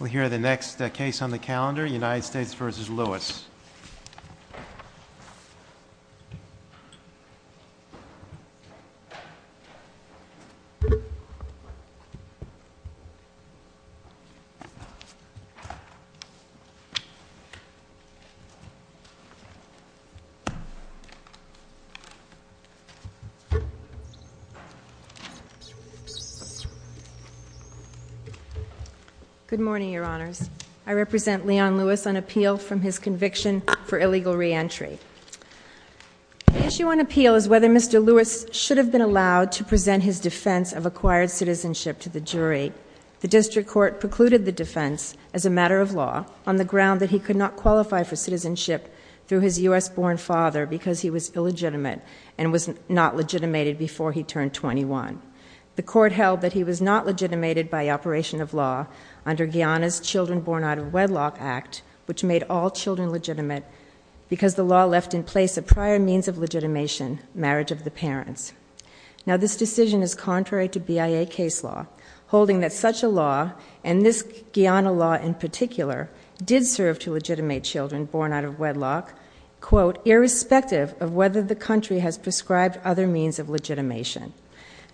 We'll hear the next case on the calendar, United States v. Lewis. Good morning, Your Honors. I represent Leon Lewis on appeal from his conviction for illegal reentry. The issue on appeal is whether Mr. Lewis should have been allowed to present his defense of acquired citizenship to the jury. The district court precluded the defense as a matter of law on the ground that he could not qualify for citizenship through his U.S.-born father because he was illegitimate and was not legitimated before he turned 21. The court held that he was not legitimated by operation of law under Guyana's Children Born Out of Wedlock Act, which made all children legitimate because the law left in place a prior means of legitimation, marriage of the parents. Now, this decision is contrary to BIA case law, holding that such a law, and this Guyana law in particular, did serve to legitimate children born out of wedlock, quote,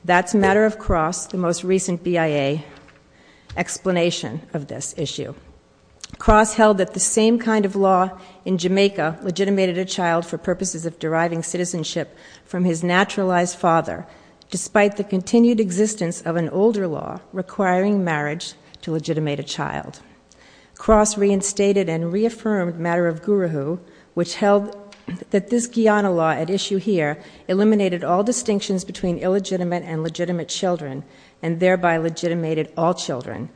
that's matter of cross, the most recent BIA explanation of this issue. Cross held that the same kind of law in Jamaica legitimated a child for purposes of deriving citizenship from his naturalized father, despite the continued existence of an older law requiring marriage to legitimate a child. Cross reinstated and reaffirmed matter of guru, which held that this Guyana law at issue here eliminated all distinctions between illegitimate and legitimate children and thereby legitimated all children.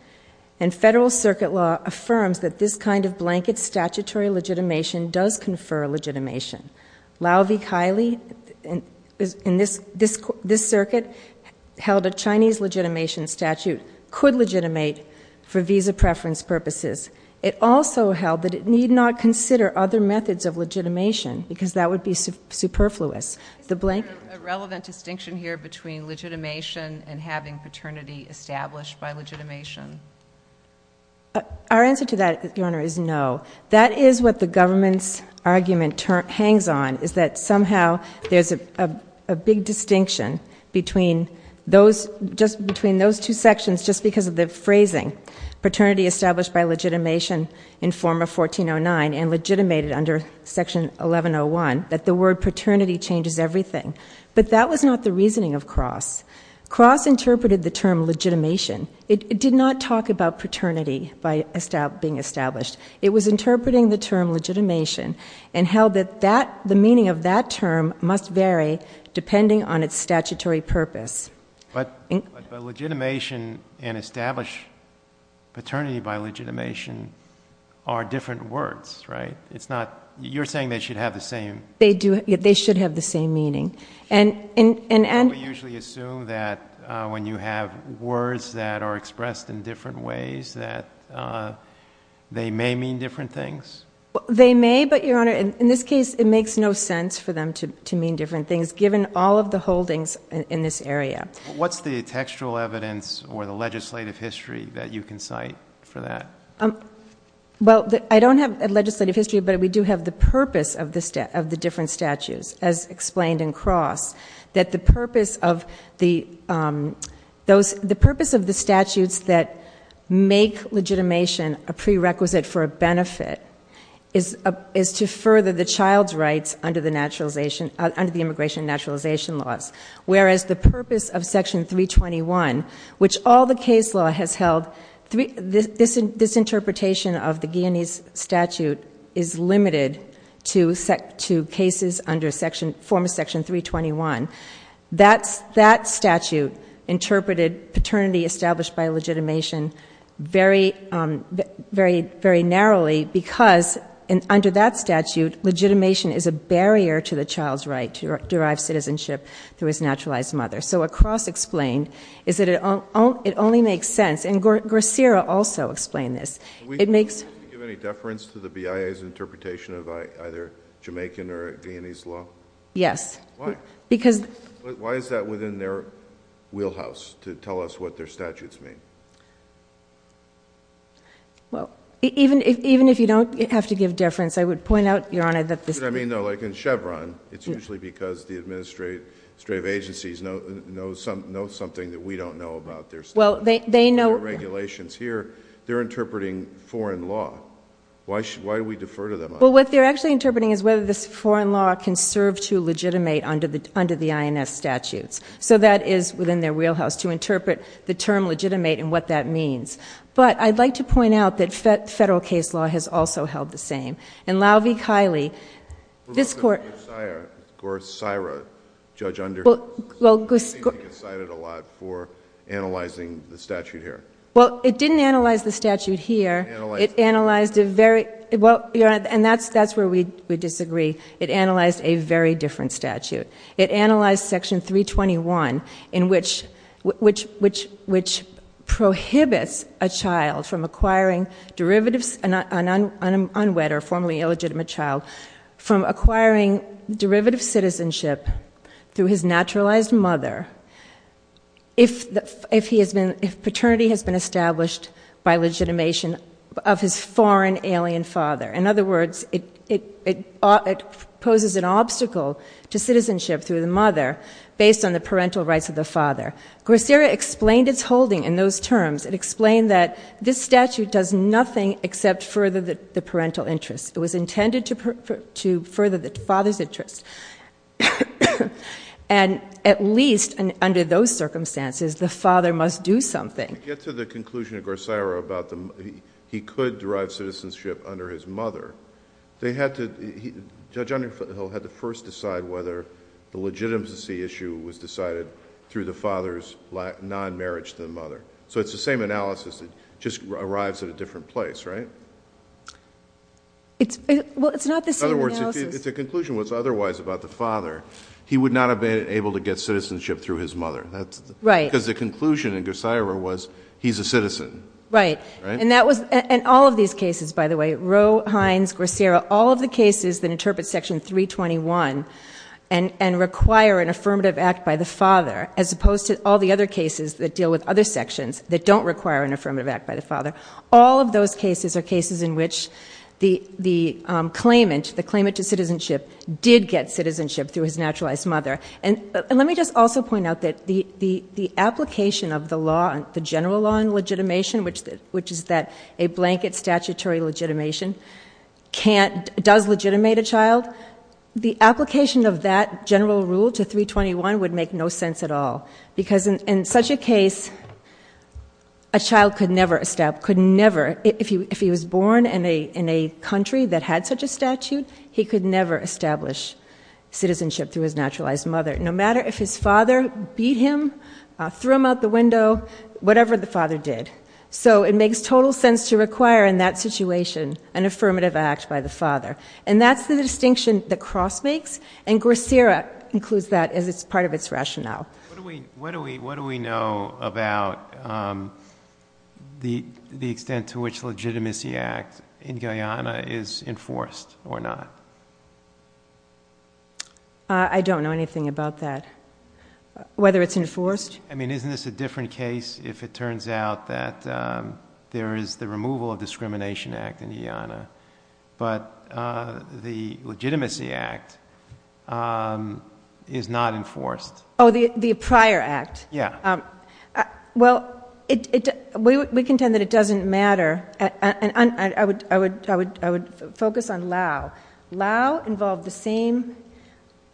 And federal circuit law affirms that this kind of blanket statutory legitimation does confer legitimation. Lau V. Kiley in this circuit held a Chinese legitimation statute could legitimate for visa preference purposes. It also held that it need not consider other methods of legitimation because that would be superfluous. Is there a relevant distinction here between legitimation and having paternity established by legitimation? Our answer to that, Your Honor, is no. That is what the government's argument hangs on is that somehow there's a big distinction between those two sections just because of the phrasing, paternity established by legitimation in form of 1409 and legitimated under Section 1101, that the word paternity changes everything. But that was not the reasoning of Cross. Cross interpreted the term legitimation. It did not talk about paternity by being established. It was interpreting the term legitimation and held that the meaning of that term must vary depending on its statutory purpose. But legitimation and established paternity by legitimation are different words, right? It's not you're saying they should have the same. They do. They should have the same meaning. And we usually assume that when you have words that are expressed in different ways that they may mean different things. They may, but, Your Honor, in this case it makes no sense for them to mean different things given all of the holdings in this area. What's the textual evidence or the legislative history that you can cite for that? Well, I don't have legislative history, but we do have the purpose of the different statutes, as explained in Cross, that the purpose of the statutes that make legitimation a prerequisite for a benefit is to further the child's rights under the immigration naturalization laws, whereas the purpose of Section 321, which all the case law has held, this interpretation of the Guianese statute is limited to cases under former Section 321. That statute interpreted paternity established by legitimation very narrowly because under that statute legitimation is a barrier to the child's right to derive citizenship through his naturalized mother. So what Cross explained is that it only makes sense. And Gracira also explained this. Did you give any deference to the BIA's interpretation of either Jamaican or Guianese law? Yes. Why? Because— Why is that within their wheelhouse to tell us what their statutes mean? Well, even if you don't have to give deference, I would point out, Your Honor, that this— That's what I mean, though. Like in Chevron, it's usually because the administrative agencies know something that we don't know about their statutes. Well, they know— Their regulations here, they're interpreting foreign law. Why do we defer to them on that? Well, what they're actually interpreting is whether this foreign law can serve to legitimate under the INS statutes. So that is within their wheelhouse to interpret the term legitimate and what that means. But I'd like to point out that federal case law has also held the same. And Lau V. Kiley, this Court— For Governor Gracira, Judge Underhill, I think you cited a lot for analyzing the statute here. Well, it didn't analyze the statute here. It analyzed a very— Well, Your Honor, and that's where we disagree. It analyzed a very different statute. It analyzed Section 321, which prohibits a child from acquiring derivatives— an unwed or formerly illegitimate child— from acquiring derivative citizenship through his naturalized mother if paternity has been established by legitimation of his foreign alien father. In other words, it poses an obstacle to citizenship through the mother based on the parental rights of the father. Gracira explained its holding in those terms. It explained that this statute does nothing except further the parental interest. It was intended to further the father's interest. And at least under those circumstances, the father must do something. To get to the conclusion of Gracira about he could derive citizenship under his mother, Judge Underhill had to first decide whether the legitimacy issue was decided through the father's non-marriage to the mother. So it's the same analysis. It just arrives at a different place, right? Well, it's not the same analysis. It's a conclusion. What's otherwise about the father, he would not have been able to get citizenship through his mother. Right. Because the conclusion in Gracira was he's a citizen. Right. And all of these cases, by the way, Roe, Hines, Gracira, all of the cases that interpret Section 321 and require an affirmative act by the father, as opposed to all the other cases that deal with other sections that don't require an affirmative act by the father, all of those cases are cases in which the claimant, the claimant to citizenship, did get citizenship through his naturalized mother. And let me just also point out that the application of the law, the general law on legitimation, which is that a blanket statutory legitimation does legitimate a child, the application of that general rule to 321 would make no sense at all. Because in such a case, a child could never, if he was born in a country that had such a statute, he could never establish citizenship through his naturalized mother, no matter if his father beat him, threw him out the window, whatever the father did. So it makes total sense to require in that situation an affirmative act by the father. And that's the distinction that Cross makes, and Gracira includes that as part of its rationale. What do we know about the extent to which the Legitimacy Act in Guyana is enforced or not? I don't know anything about that. Whether it's enforced? I mean, isn't this a different case if it turns out that there is the removal of the Discrimination Act in Guyana, but the Legitimacy Act is not enforced? Oh, the prior act? Yeah. Well, we contend that it doesn't matter. I would focus on Lao. Lao involved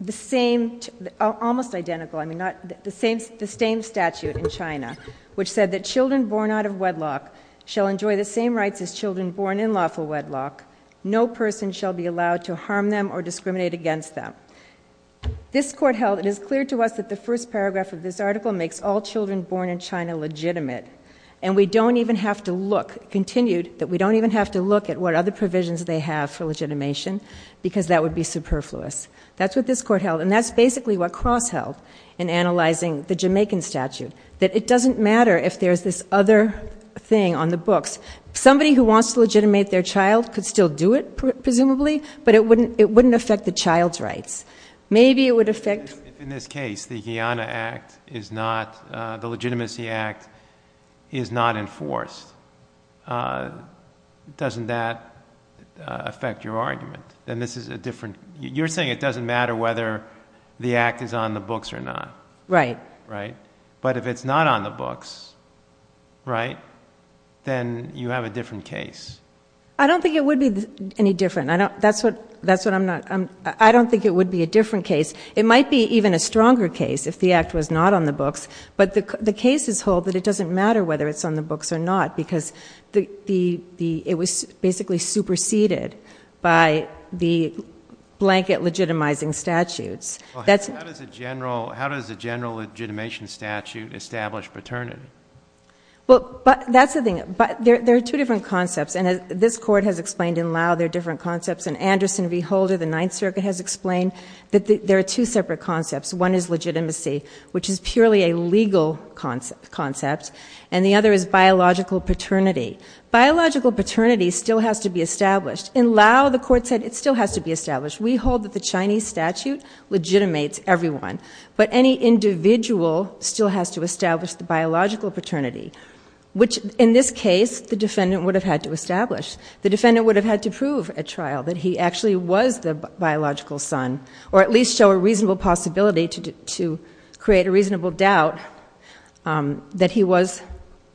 the same, almost identical, I mean, the same statute in China, which said that children born out of wedlock shall enjoy the same rights as children born in lawful wedlock. No person shall be allowed to harm them or discriminate against them. This Court held, it is clear to us that the first paragraph of this article makes all children born in China legitimate, and we don't even have to look, continued, that we don't even have to look at what other provisions they have for legitimation, because that would be superfluous. That's what this Court held, and that's basically what Cross held in analyzing the Jamaican statute, that it doesn't matter if there's this other thing on the books. Somebody who wants to legitimate their child could still do it, presumably, but it wouldn't affect the child's rights. Maybe it would affect... In this case, the Guyana Act is not, the Legitimacy Act is not enforced. Doesn't that affect your argument? Then this is a different, you're saying it doesn't matter whether the act is on the books or not. Right. But if it's not on the books, right, then you have a different case. I don't think it would be any different. That's what I'm not... I don't think it would be a different case. It might be even a stronger case if the act was not on the books, but the cases hold that it doesn't matter whether it's on the books or not, because it was basically superseded by the blanket legitimizing statutes. How does a general legitimation statute establish paternity? Well, that's the thing. There are two different concepts, and this Court has explained in Laos there are different concepts, and Anderson v. Holder, the Ninth Circuit, has explained that there are two separate concepts. One is legitimacy, which is purely a legal concept, and the other is biological paternity. Biological paternity still has to be established. We hold that the Chinese statute legitimates everyone, but any individual still has to establish the biological paternity, which in this case the defendant would have had to establish. The defendant would have had to prove at trial that he actually was the biological son or at least show a reasonable possibility to create a reasonable doubt that he was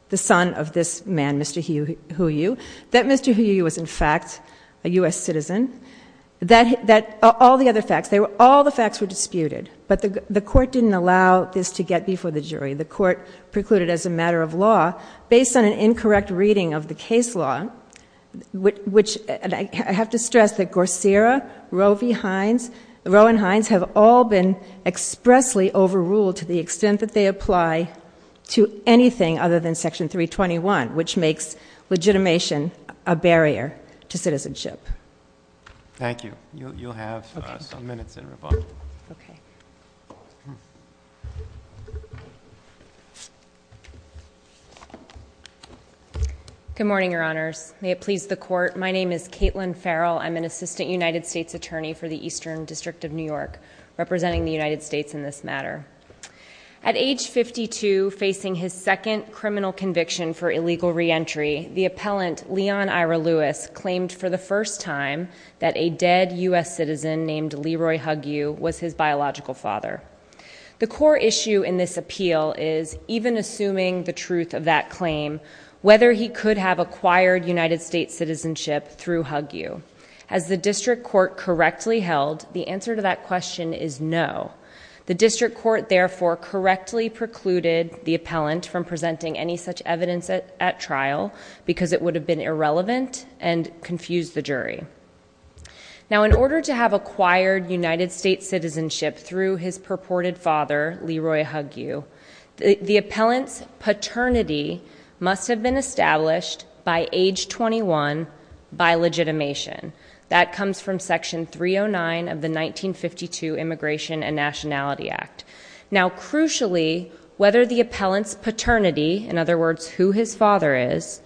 the son of this man, Mr. Huiyu, that Mr. Huiyu was, in fact, a U.S. citizen. All the other facts, all the facts were disputed, but the Court didn't allow this to get before the jury. The Court precluded as a matter of law, based on an incorrect reading of the case law, which I have to stress that Gorsera, Roe v. Hines, Roe and Hines have all been expressly overruled to the extent that they apply to anything other than Section 321, which makes legitimation a barrier to citizenship. Thank you. You'll have a few minutes in rebuttal. Okay. Good morning, Your Honors. May it please the Court. My name is Caitlin Farrell. I'm an Assistant United States Attorney for the Eastern District of New York, representing the United States in this matter. At age 52, facing his second criminal conviction for illegal reentry, the appellant, Leon Ira Lewis, claimed for the first time that a dead U.S. citizen named Leroy Huiyu was his biological father. The core issue in this appeal is, even assuming the truth of that claim, whether he could have acquired United States citizenship through Huiyu. As the District Court correctly held, the answer to that question is no. The District Court, therefore, correctly precluded the appellant from presenting any such evidence at trial because it would have been irrelevant and confused the jury. Now, in order to have acquired United States citizenship through his purported father, Leroy Huiyu, the appellant's paternity must have been established by age 21 by legitimation. That comes from Section 309 of the 1952 Immigration and Nationality Act. Now, crucially, whether the appellant's paternity, in other words, who his father is,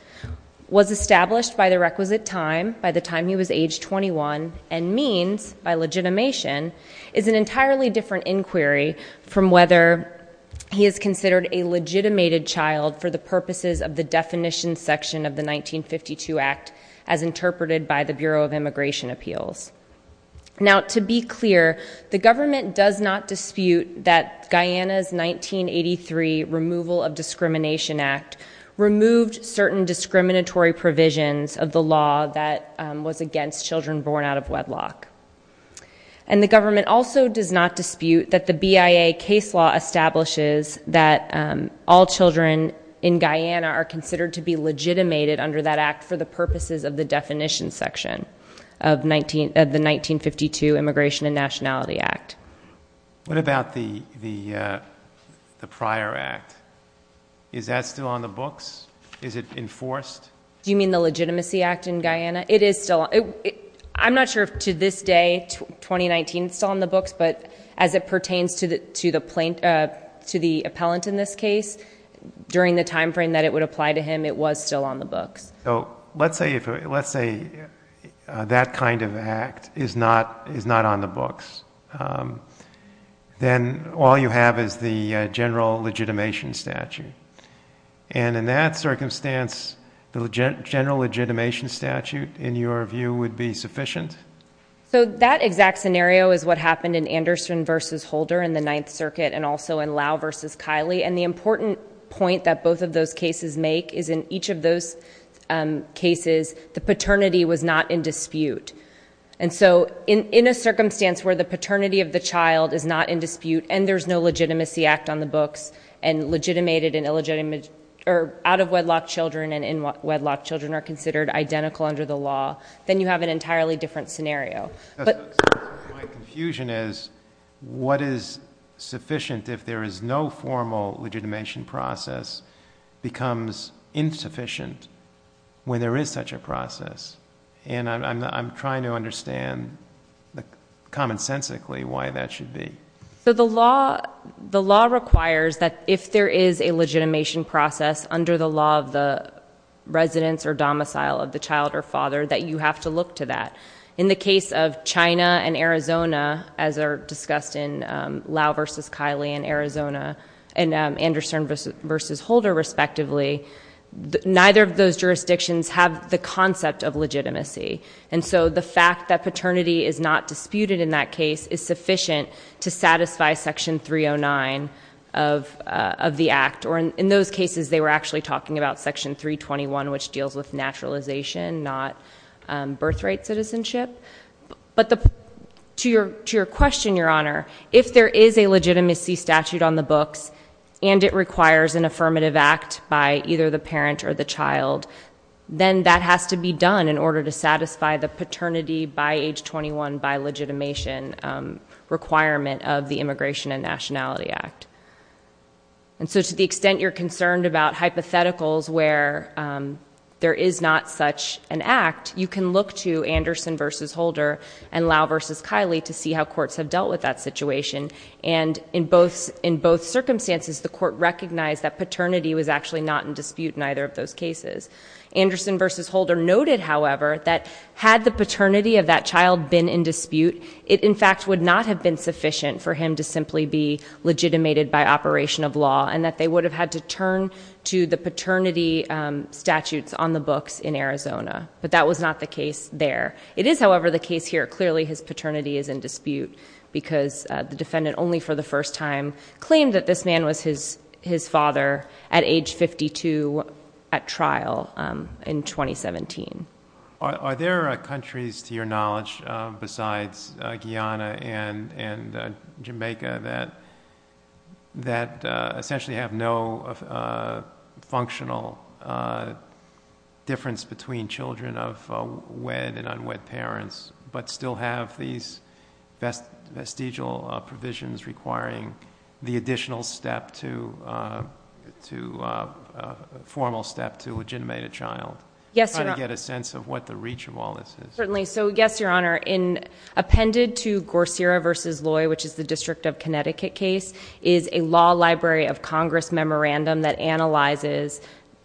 was established by the requisite time, by the time he was age 21, and means, by legitimation, is an entirely different inquiry from whether he is considered a legitimated child for the purposes of the definition section of the 1952 Act as interpreted by the Bureau of Immigration Appeals. Now, to be clear, the government does not dispute that Guyana's 1983 Removal of Discrimination Act removed certain discriminatory provisions of the law that was against children born out of wedlock. And the government also does not dispute that the BIA case law establishes that all children in Guyana are considered to be legitimated under that act for the purposes of the definition section of the 1952 Immigration and Nationality Act. What about the prior act? Is that still on the books? Is it enforced? Do you mean the Legitimacy Act in Guyana? It is still on the books. I'm not sure if to this day, 2019, it's still on the books, but as it pertains to the appellant in this case, during the time frame that it would apply to him, it was still on the books. So let's say that kind of act is not on the books. Then all you have is the general legitimation statute. And in that circumstance, the general legitimation statute, in your view, would be sufficient? So that exact scenario is what happened in Anderson v. Holder in the Ninth Circuit and also in Lau v. Kiley. And the important point that both of those cases make is in each of those cases, the paternity was not in dispute. And so in a circumstance where the paternity of the child is not in dispute and there's no legitimacy act on the books and out-of-wedlock children and in-wedlock children are considered identical under the law, then you have an entirely different scenario. My confusion is what is sufficient if there is no formal legitimation process becomes insufficient when there is such a process? And I'm trying to understand, commonsensically, why that should be. So the law requires that if there is a legitimation process under the law of the residence or domicile of the child or father, that you have to look to that. In the case of China and Arizona, as are discussed in Lau v. Kiley and Arizona and Anderson v. Holder, respectively, neither of those jurisdictions have the concept of legitimacy. And so the fact that paternity is not disputed in that case is sufficient to satisfy Section 309 of the Act. Or in those cases, they were actually talking about Section 321, which deals with naturalization, not birthright citizenship. But to your question, Your Honor, if there is a legitimacy statute on the books and it requires an affirmative act by either the parent or the child, then that has to be done in order to satisfy the paternity by age 21 by legitimation requirement of the Immigration and Nationality Act. And so to the extent you're concerned about hypotheticals where there is not such an act, you can look to Anderson v. Holder and Lau v. Kiley to see how courts have dealt with that situation. And in both circumstances, the court recognized that paternity was actually not in dispute in either of those cases. Anderson v. Holder noted, however, that had the paternity of that child been in dispute, it in fact would not have been sufficient for him to simply be legitimated by operation of law and that they would have had to turn to the paternity statutes on the books in Arizona. But that was not the case there. It is, however, the case here. Clearly his paternity is in dispute because the defendant only for the first time claimed that this man was his father at age 52 at trial in 2017. Are there countries, to your knowledge, besides Guyana and Jamaica, that essentially have no functional difference between children of wed and unwed parents but still have these vestigial provisions requiring the formal step to legitimate a child? Yes, Your Honor. I'm trying to get a sense of what the reach of all this is. Certainly. So yes, Your Honor. Appended to Gorsera v. Loy, which is the District of Connecticut case, is a law library of Congress memorandum that analyzes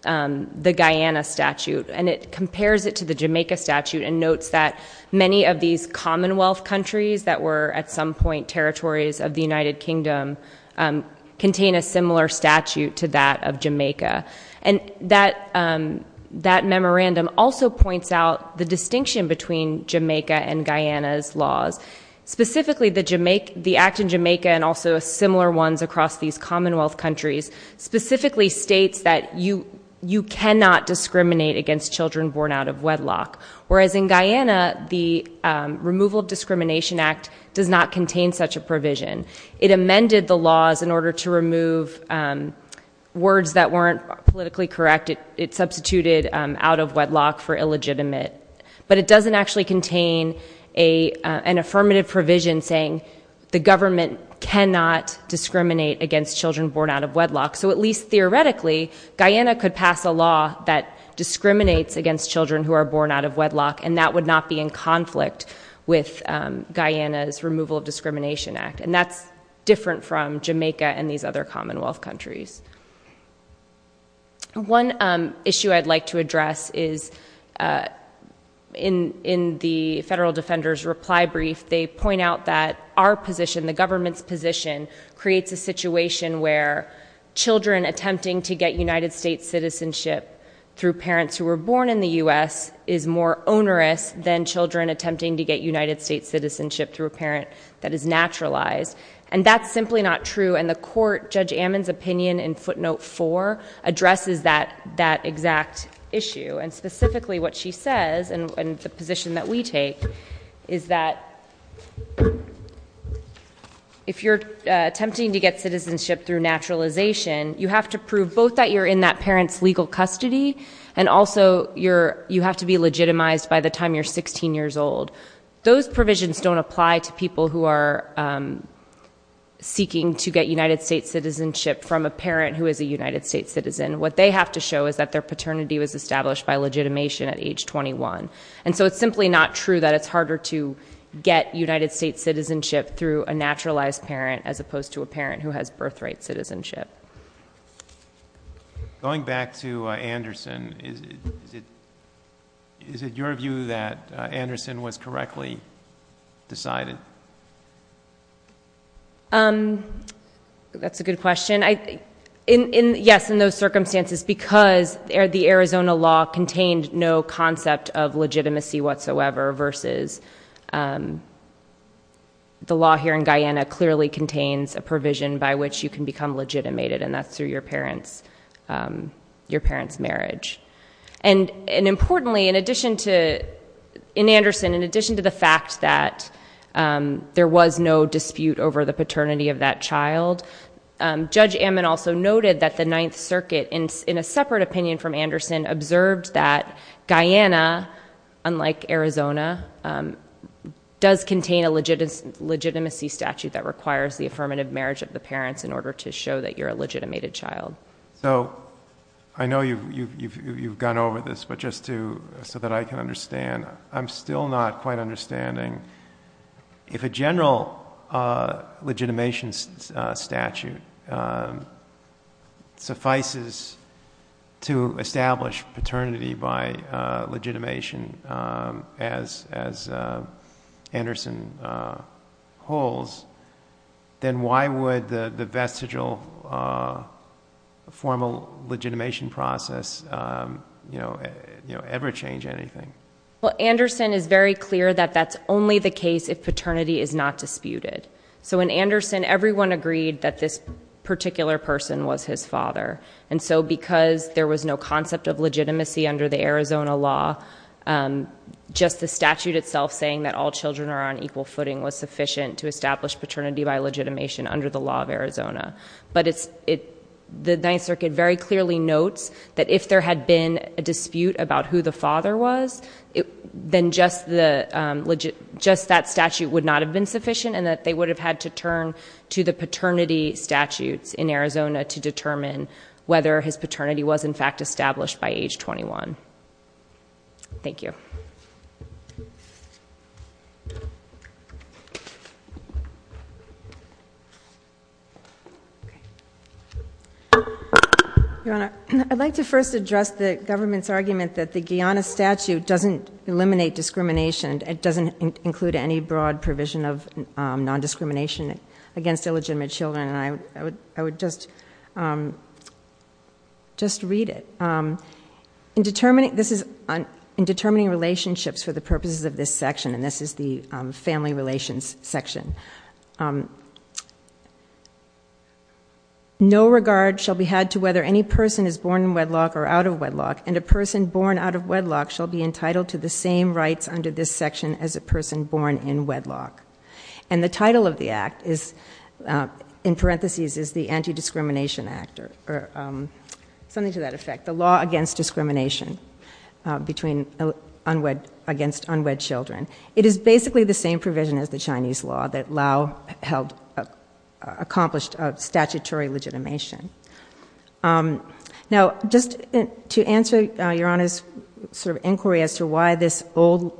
the Guyana statute and it compares it to the Jamaica statute and notes that many of these Commonwealth countries that were at some point territories of the United Kingdom contain a similar statute to that of Jamaica. And that memorandum also points out the distinction between Jamaica and Guyana's laws. Specifically, the Act in Jamaica and also similar ones across these Commonwealth countries specifically states that you cannot discriminate against children born out of wedlock. Whereas in Guyana, the Removal of Discrimination Act does not contain such a provision. It amended the laws in order to remove words that weren't politically correct. It substituted out of wedlock for illegitimate. But it doesn't actually contain an affirmative provision saying the government cannot discriminate against children born out of wedlock. So at least theoretically, Guyana could pass a law that discriminates against children who are born out of wedlock and that would not be in conflict with Guyana's Removal of Discrimination Act. And that's different from Jamaica and these other Commonwealth countries. One issue I'd like to address is in the Federal Defender's reply brief, they point out that our position, the government's position, creates a situation where children attempting to get United States citizenship through parents who were born in the U.S. is more onerous than children attempting to get United States citizenship through a parent that is naturalized. And that's simply not true. And the court, Judge Ammon's opinion in footnote 4, addresses that exact issue. And specifically what she says, and the position that we take, is that if you're attempting to get citizenship through naturalization, you have to prove both that you're in that parent's legal custody and also you have to be legitimized by the time you're 16 years old. Those provisions don't apply to people who are seeking to get United States citizenship from a parent who is a United States citizen. What they have to show is that their paternity was established by legitimation at age 21. And so it's simply not true that it's harder to get United States citizenship through a naturalized parent as opposed to a parent who has birthright citizenship. Going back to Anderson, is it your view that Anderson was correctly decided? That's a good question. Yes, in those circumstances, because the Arizona law contained no concept of legitimacy whatsoever versus the law here in Guyana clearly contains a provision by which you can become legitimated, and that's through your parent's marriage. And importantly, in addition to the fact that there was no dispute over the paternity of that child, Judge Ammon also noted that the Ninth Circuit, in a separate opinion from Anderson, observed that Guyana, unlike Arizona, does contain a legitimacy statute that requires the affirmative marriage of the parents in order to show that you're a legitimated child. So I know you've gone over this, but just so that I can understand, I'm still not quite understanding. If a general legitimation statute suffices to establish paternity by legitimation as Anderson holds, then why would the vestigial formal legitimation process ever change anything? Well, Anderson is very clear that that's only the case if paternity is not disputed. So in Anderson, everyone agreed that this particular person was his father. And so because there was no concept of legitimacy under the Arizona law, just the statute itself saying that all children are on equal footing was sufficient to establish paternity by legitimation under the law of Arizona. But the Ninth Circuit very clearly notes that if there had been a dispute about who the father was, then just that statute would not have been sufficient, and that they would have had to turn to the paternity statutes in Arizona to determine whether his paternity was in fact established by age 21. Thank you. Your Honor, I'd like to first address the government's argument that the Guiana statute doesn't eliminate discrimination. It doesn't include any broad provision of nondiscrimination against illegitimate children. And I would just read it. In determining relationships for the purposes of this section, and this is the family relations section, no regard shall be had to whether any person is born in wedlock or out of wedlock, and a person born out of wedlock shall be entitled to the same rights under this section as a person born in wedlock. And the title of the act is, in parentheses, is the Anti-Discrimination Act, or something to that effect, the law against discrimination against unwed children. It is basically the same provision as the Chinese law that Lao accomplished statutory legitimation. Now, just to answer Your Honor's sort of inquiry as to why this old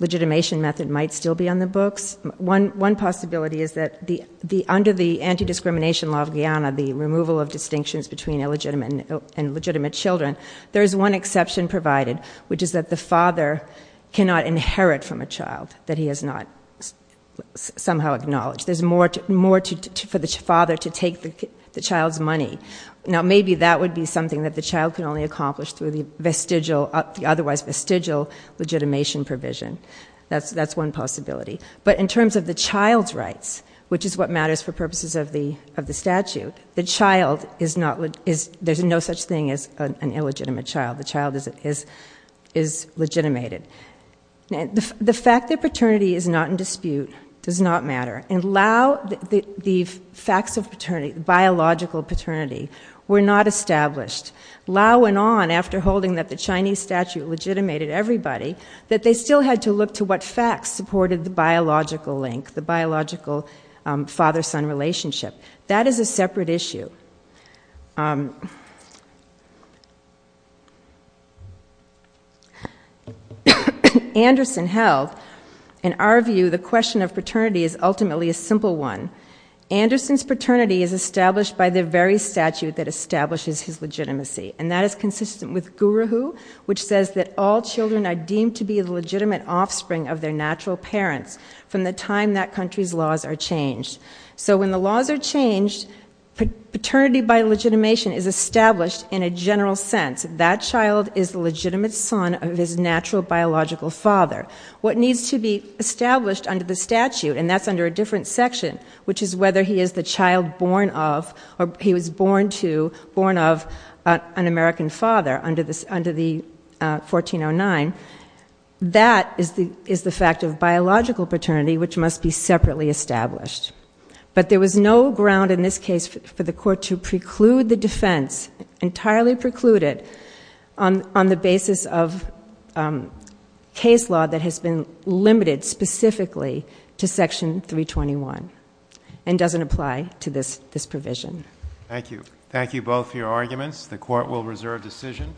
legitimation method might still be on the books, one possibility is that under the anti-discrimination law of Guiana, the removal of distinctions between illegitimate and legitimate children, there is one exception provided, which is that the father cannot inherit from a child that he has not somehow acknowledged. There's more for the father to take the child's money. Now, maybe that would be something that the child can only accomplish through the vestigial, the otherwise vestigial legitimation provision. That's one possibility. But in terms of the child's rights, which is what matters for purposes of the statute, the child is not, there's no such thing as an illegitimate child. The child is legitimated. The fact that paternity is not in dispute does not matter. In Lao, the facts of paternity, biological paternity, were not established. Lao went on, after holding that the Chinese statute legitimated everybody, that they still had to look to what facts supported the biological link, the biological father-son relationship. That is a separate issue. Anderson held, in our view, the question of paternity is ultimately a simple one. Anderson's paternity is established by the very statute that establishes his legitimacy, and that is consistent with Guru Hu, which says that all children are deemed to be the legitimate offspring of their natural parents from the time that country's laws are changed. So when the laws are changed, paternity by legitimation is established in a general sense. That child is the legitimate son of his natural biological father. What needs to be established under the statute, and that's under a different section, which is whether he is the child born of, or he was born to, born of, an American father under the 1409, that is the fact of biological paternity, which must be separately established. But there was no ground in this case for the court to preclude the defense, entirely preclude it, on the basis of case law that has been limited specifically to Section 321 and doesn't apply to this provision. Thank you. Thank you both for your arguments. The court will reserve decision.